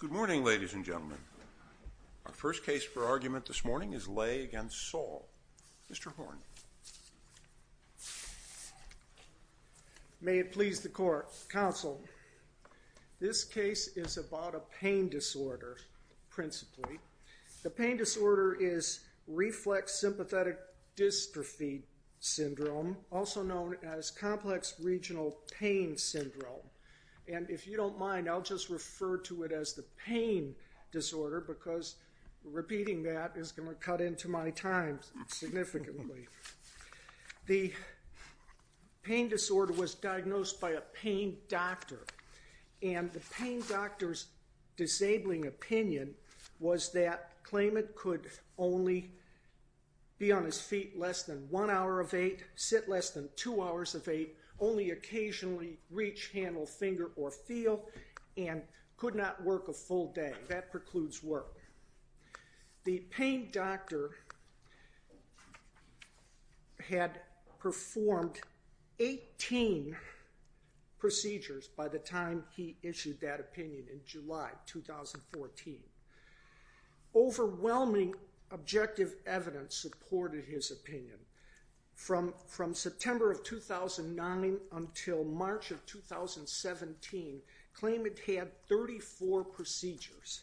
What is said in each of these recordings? Good morning, ladies and gentlemen. Our first case for argument this morning is Lay v. Saul. Mr. Horne. May it please the court, counsel. This case is about a pain disorder, principally. The West Regional Pain Syndrome. And if you don't mind, I'll just refer to it as the pain disorder because repeating that is going to cut into my time significantly. The pain disorder was diagnosed by a pain doctor. And the pain doctor's disabling opinion was that Klayman could only be on his feet less than one hour of eight, sit less than two hours of eight, only occasionally reach, handle, finger, or feel, and could not work a full day. That precludes work. The pain doctor had performed 18 procedures by the time he issued that opinion in July 2014. Overwhelming objective evidence supported his opinion. From September of 2009 until March of 2017, Klayman had 34 procedures.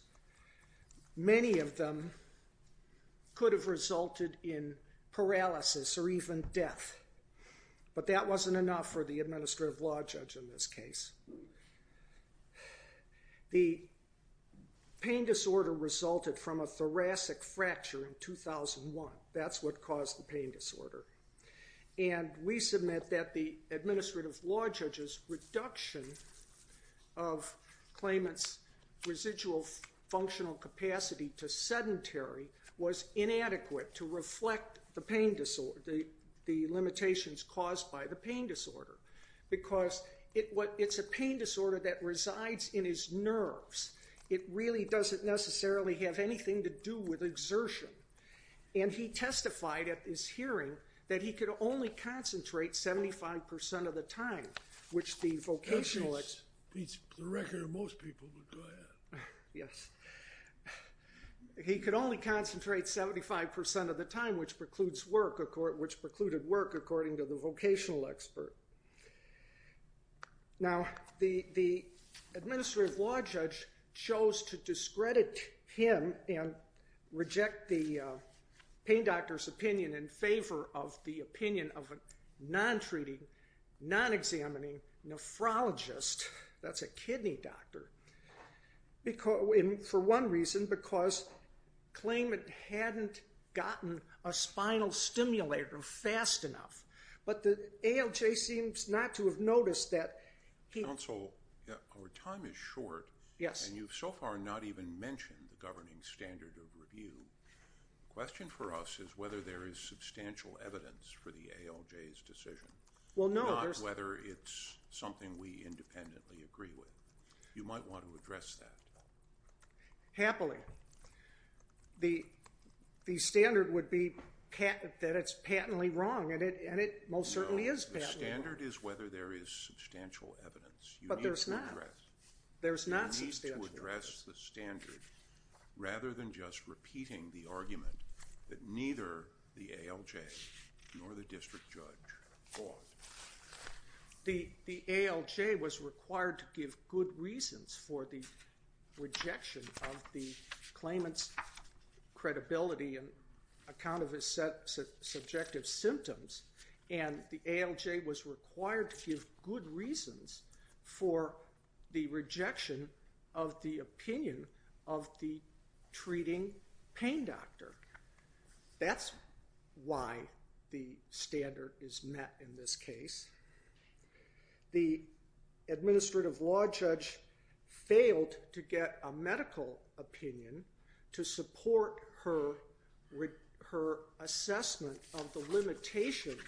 Many of them could have resulted in paralysis or even death. But that wasn't enough for the administrative law judge in this case. The pain disorder resulted from a thoracic fracture in 2001. That's what caused the pain disorder. And we submit that the administrative law judge's reduction of Klayman's residual functional capacity to sedentary was inadequate to reflect the limitations caused by the pain disorder. Because it's a pain disorder that resides in his nerves. It really doesn't necessarily have anything to do with exertion. And he testified at this hearing that he could only concentrate 75% of the time, which the vocational expert... That beats the record of most people, but go ahead. Yes. He could only concentrate 75% of the time, which precludes work, according to the vocational expert. Now, the administrative law judge chose to discredit him and reject the pain doctor's opinion in favor of the opinion of a non-treating, non-examining nephrologist. That's a kidney doctor. For one reason, because Klayman hadn't gotten a spinal stimulator fast enough. But the ALJ seems not to have noticed that he... Counsel, our time is short, and you've so far not even mentioned the governing standard of review. The question for us is whether there is substantial evidence for the ALJ's decision. Not whether it's something we independently agree with. You might want to address that. Happily, the standard would be that it's patently wrong, and it most certainly is patently wrong. No, the standard is whether there is substantial evidence. But there's not. There's not substantial evidence. You need to address the standard rather than just repeating the argument that neither the ALJ nor the district judge fought. The ALJ was required to give good reasons for the rejection of the Klayman's credibility in account of his subjective symptoms, and the ALJ was required to give good reasons for the rejection of the opinion of the treating pain doctor. That's why the standard is met in this case. The administrative law judge failed to get a medical opinion to support her assessment of the limitations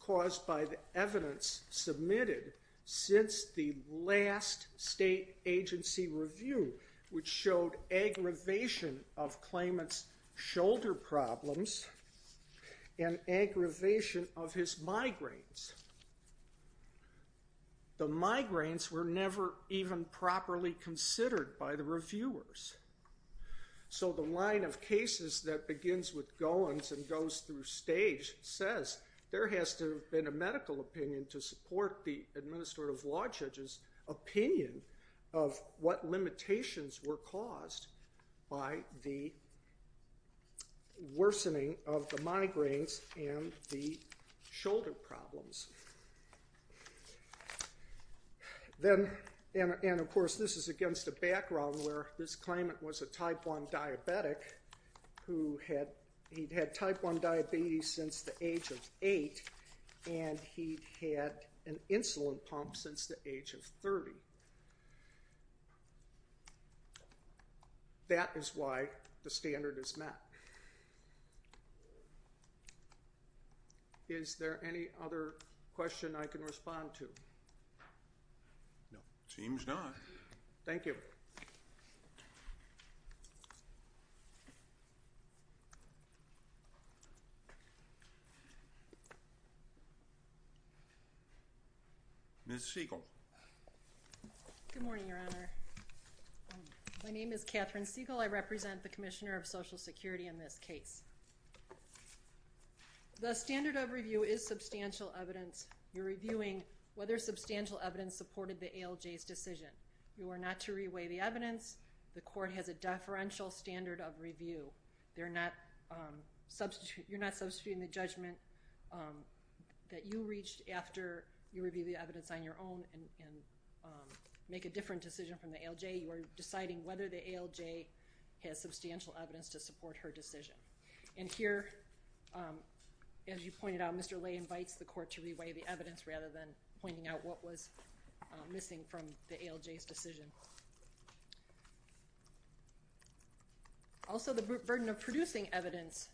caused by the evidence submitted since the last state agency review which showed aggravation of Klayman's shoulder problems and aggravation of his migraines. The migraines were never even properly considered by the reviewers. So the line of cases that begins with Goins and goes through stage says there has to have been a medical opinion to support the administrative law judge's opinion of what limitations were caused by the worsening of the migraines and the shoulder problems. And, of course, this is against a background where this Klayman was a type 1 diabetic who had type 1 diabetes since the age of 8 and he had an insulin pump since the age of 30. That is why the standard is met. Is there any other question I can respond to? No, it seems not. Thank you. Ms. Siegel. Good morning, Your Honor. My name is Catherine Siegel. I represent the Commissioner of Social Security in this case. The standard of review is substantial evidence. You're reviewing whether substantial evidence supported the ALJ's decision. You are not to reweigh the evidence. The court has a deferential standard of review. You're not substituting the judgment that you reached after you reviewed the evidence on your own and make a different decision from the ALJ. You are deciding whether the ALJ has substantial evidence to support her decision. And here, as you pointed out, Mr. Lay invites the court to reweigh the evidence rather than pointing out what was missing from the ALJ's decision. Also, the burden of producing evidence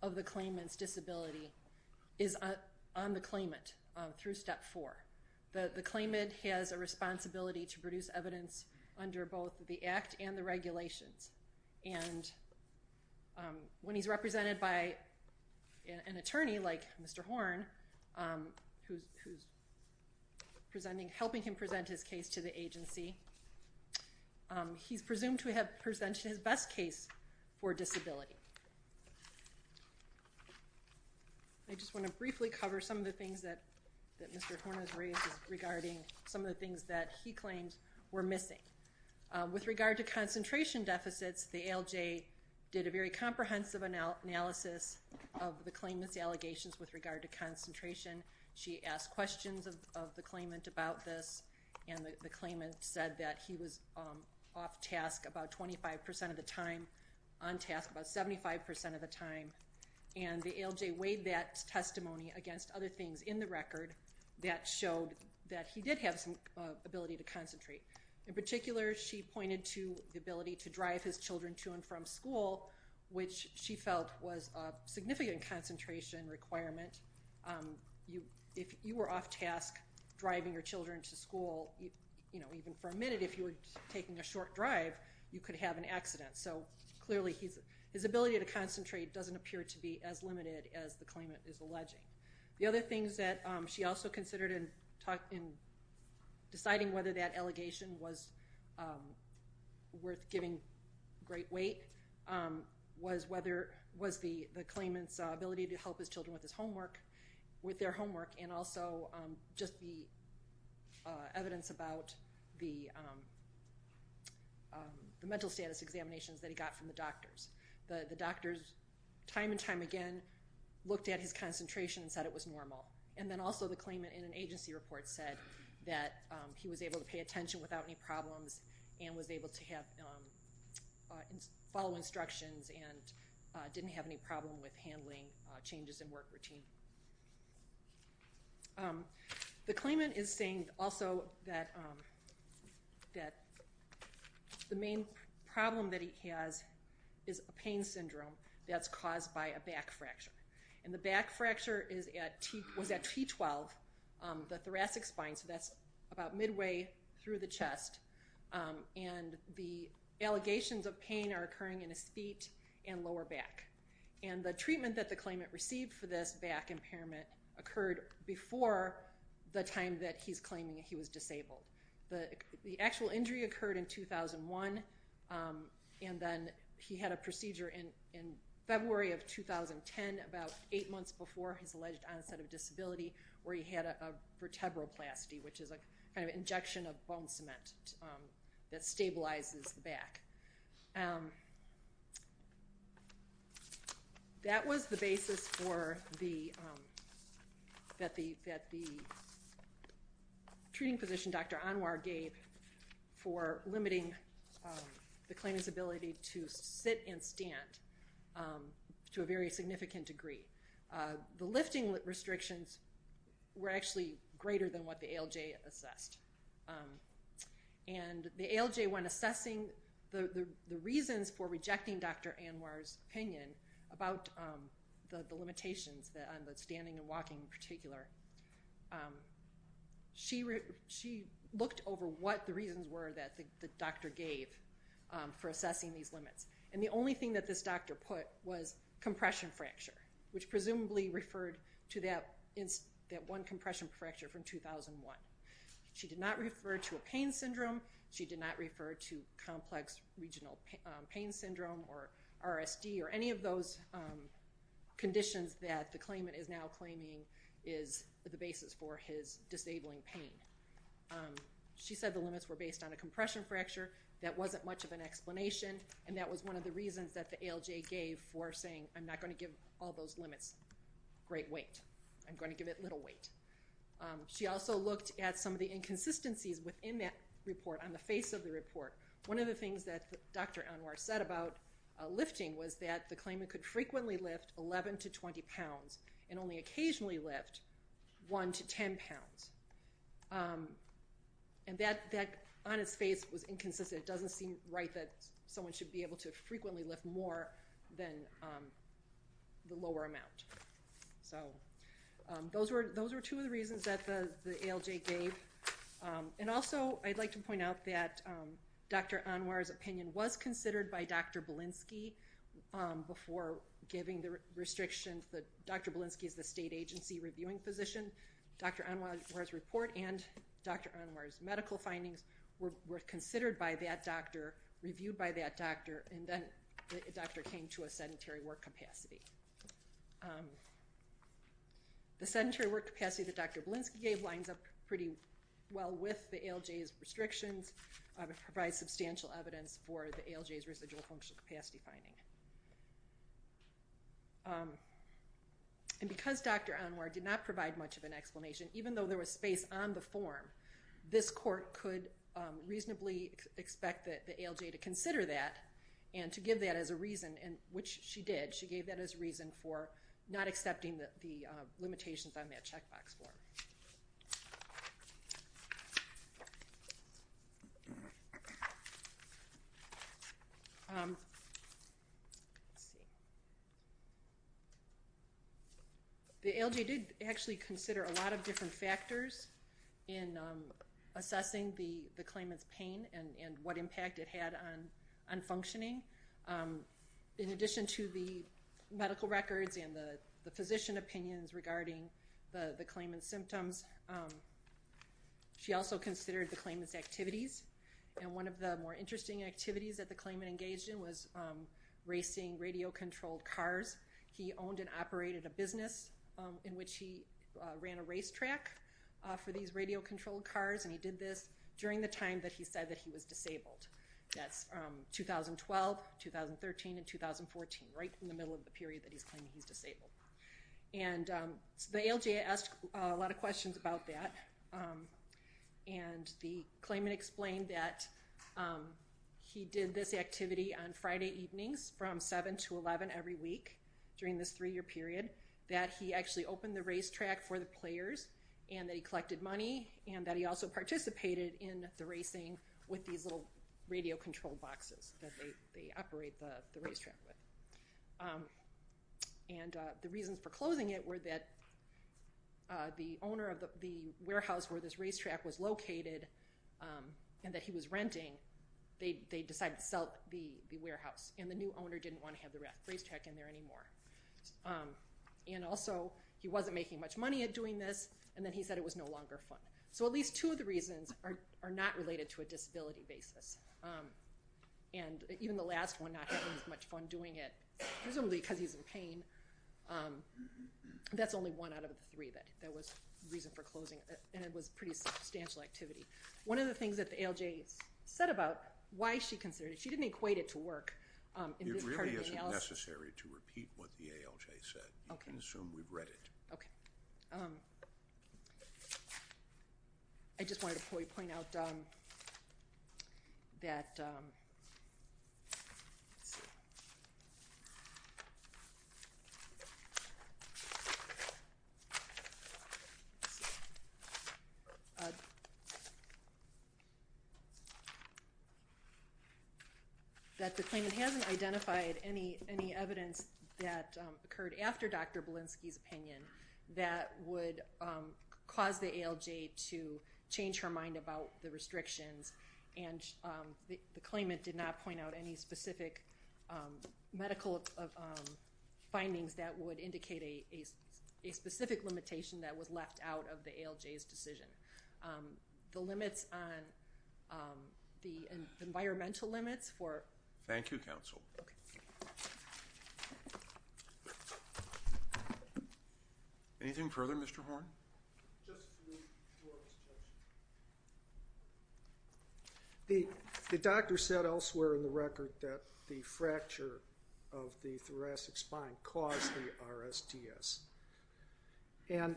of the Klayman's disability is on the Klayman through Step 4. The Klayman has a responsibility to produce evidence under both the Act and the regulations. And when he's represented by an attorney like Mr. Horn, who's helping him present his case to the agency, he's presumed to have presented his best case for disability. I just want to briefly cover some of the things that Mr. Horn has raised regarding some of the things that he claims were missing. With regard to concentration deficits, the ALJ did a very comprehensive analysis of the Klayman's allegations with regard to concentration. She asked questions of the Klayman about this, and the Klayman said that he was off-task about 25% of the time, on-task about 75% of the time. And the ALJ weighed that testimony against other things in the record that showed that he did have some ability to concentrate. In particular, she pointed to the ability to drive his children to and from school, which she felt was a significant concentration requirement. If you were off-task driving your children to school, you know, even for a minute, if you were taking a short drive, you could have an accident. So, clearly, his ability to concentrate doesn't appear to be as limited as the Klayman is alleging. The other things that she also considered in deciding whether that allegation was worth giving great weight was the Klayman's ability to help his children with their homework, and also just the evidence about the mental status examinations that he got from the doctors. The doctors, time and time again, looked at his concentration and said it was normal. And then also the Klayman in an agency report said that he was able to pay attention without any problems and was able to follow instructions and didn't have any problem with handling changes in work routine. The Klayman is saying also that the main problem that he has is a pain syndrome that's caused by a back fracture. And the back fracture was at T12, the thoracic spine, so that's about midway through the chest, and the allegations of pain are occurring in his feet and lower back. And the treatment that the Klayman received for this back impairment occurred before the time that he's claiming he was disabled. The actual injury occurred in 2001, and then he had a procedure in February of 2010, about eight months before his alleged onset of disability, where he had a vertebroplasty, which is a kind of injection of bone cement that stabilizes the back. That was the basis that the treating physician, Dr. Anwar, gave for limiting the Klayman's ability to sit and stand to a very significant degree. The lifting restrictions were actually greater than what the ALJ assessed. And the ALJ, when assessing the reasons for rejecting Dr. Anwar's opinion about the limitations, the standing and walking in particular, she looked over what the reasons were that the doctor gave for assessing these limits. And the only thing that this doctor put was compression fracture, which presumably referred to that one compression fracture from 2001. She did not refer to a pain syndrome. She did not refer to complex regional pain syndrome or RSD or any of those conditions that the Klayman is now claiming is the basis for his disabling pain. She said the limits were based on a compression fracture. That wasn't much of an explanation, and that was one of the reasons that the ALJ gave for saying, I'm not going to give all those limits great weight. I'm going to give it little weight. She also looked at some of the inconsistencies within that report on the face of the report. One of the things that Dr. Anwar said about lifting was that the Klayman could frequently lift 11 to 20 pounds and only occasionally lift 1 to 10 pounds. And that on its face was inconsistent. It doesn't seem right that someone should be able to frequently lift more than the lower amount. So those were two of the reasons that the ALJ gave. And also I'd like to point out that Dr. Anwar's opinion was considered by Dr. Belinsky before giving the restrictions. Dr. Belinsky is the state agency reviewing physician. Dr. Anwar's report and Dr. Anwar's medical findings were considered by that doctor, reviewed by that doctor, and then the doctor came to a sedentary work capacity. The sedentary work capacity that Dr. Belinsky gave lines up pretty well with the ALJ's restrictions. It provides substantial evidence for the ALJ's residual functional capacity finding. And because Dr. Anwar did not provide much of an explanation, even though there was space on the form, this court could reasonably expect the ALJ to consider that and to give that as a reason, which she did. She gave that as a reason for not accepting the limitations on that checkbox form. The ALJ did actually consider a lot of different factors in assessing the claimant's pain and what impact it had on functioning. In addition to the medical records and the physician opinions regarding the claimant's symptoms, she also considered the claimant's activities. And one of the more interesting activities that the claimant engaged in was racing radio-controlled cars. He owned and operated a business in which he ran a racetrack for these radio-controlled cars, and he did this during the time that he said that he was disabled. That's 2012, 2013, and 2014, right in the middle of the period that he's claiming he's disabled. And the ALJ asked a lot of questions about that, and the claimant explained that he did this activity on Friday evenings from 7 to 11 every week during this three-year period, that he actually opened the racetrack for the players, and that he collected money, and that he also participated in the racing with these little radio-controlled boxes that they operate the racetrack with. And the reasons for closing it were that the owner of the warehouse where this racetrack was located and that he was renting, they decided to sell the warehouse, and the new owner didn't want to have the racetrack in there anymore. And also, he wasn't making much money at doing this, and then he said it was no longer fun. So at least two of the reasons are not related to a disability basis. And even the last one, not having as much fun doing it, presumably because he's in pain, that's only one out of the three that was the reason for closing it, and it was pretty substantial activity. One of the things that the ALJ said about why she considered it, she didn't equate it to work. It really isn't necessary to repeat what the ALJ said. You can assume we've read it. Okay. I just wanted to point out that the claimant hasn't identified any evidence that occurred after Dr. Belinsky's opinion that would cause the ALJ to change her mind about the restrictions, and the claimant did not point out any specific medical findings that would indicate a specific limitation that was left out of the ALJ's decision. The limits on the environmental limits for- Thank you, Counsel. Anything further, Mr. Horne? The doctor said elsewhere in the record that the fracture of the thoracic spine caused the RSTS, and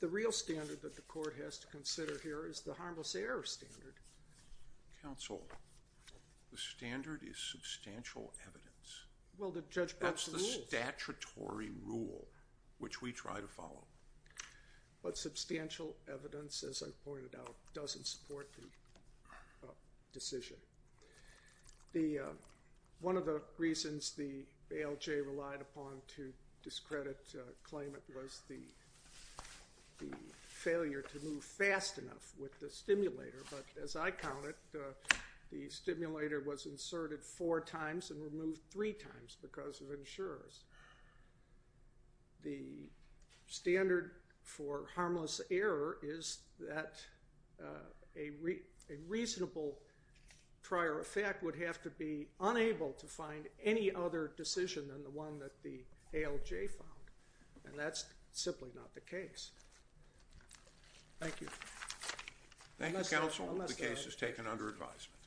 the real standard that the court has to consider here is the harmless error standard. Counsel, the standard is substantial evidence. Well, the judge broke the rules. That's the statutory rule, which we try to follow. But substantial evidence, as I pointed out, doesn't support the decision. One of the reasons the ALJ relied upon to discredit the claimant was the failure to move fast enough with the stimulator, but as I counted, the stimulator was inserted four times and removed three times because of insurers. The standard for harmless error is that a reasonable prior effect would have to be unable to find any other decision than the one that the ALJ found, and that's simply not the case. Thank you. Thank you, Counsel. The case is taken under advisement.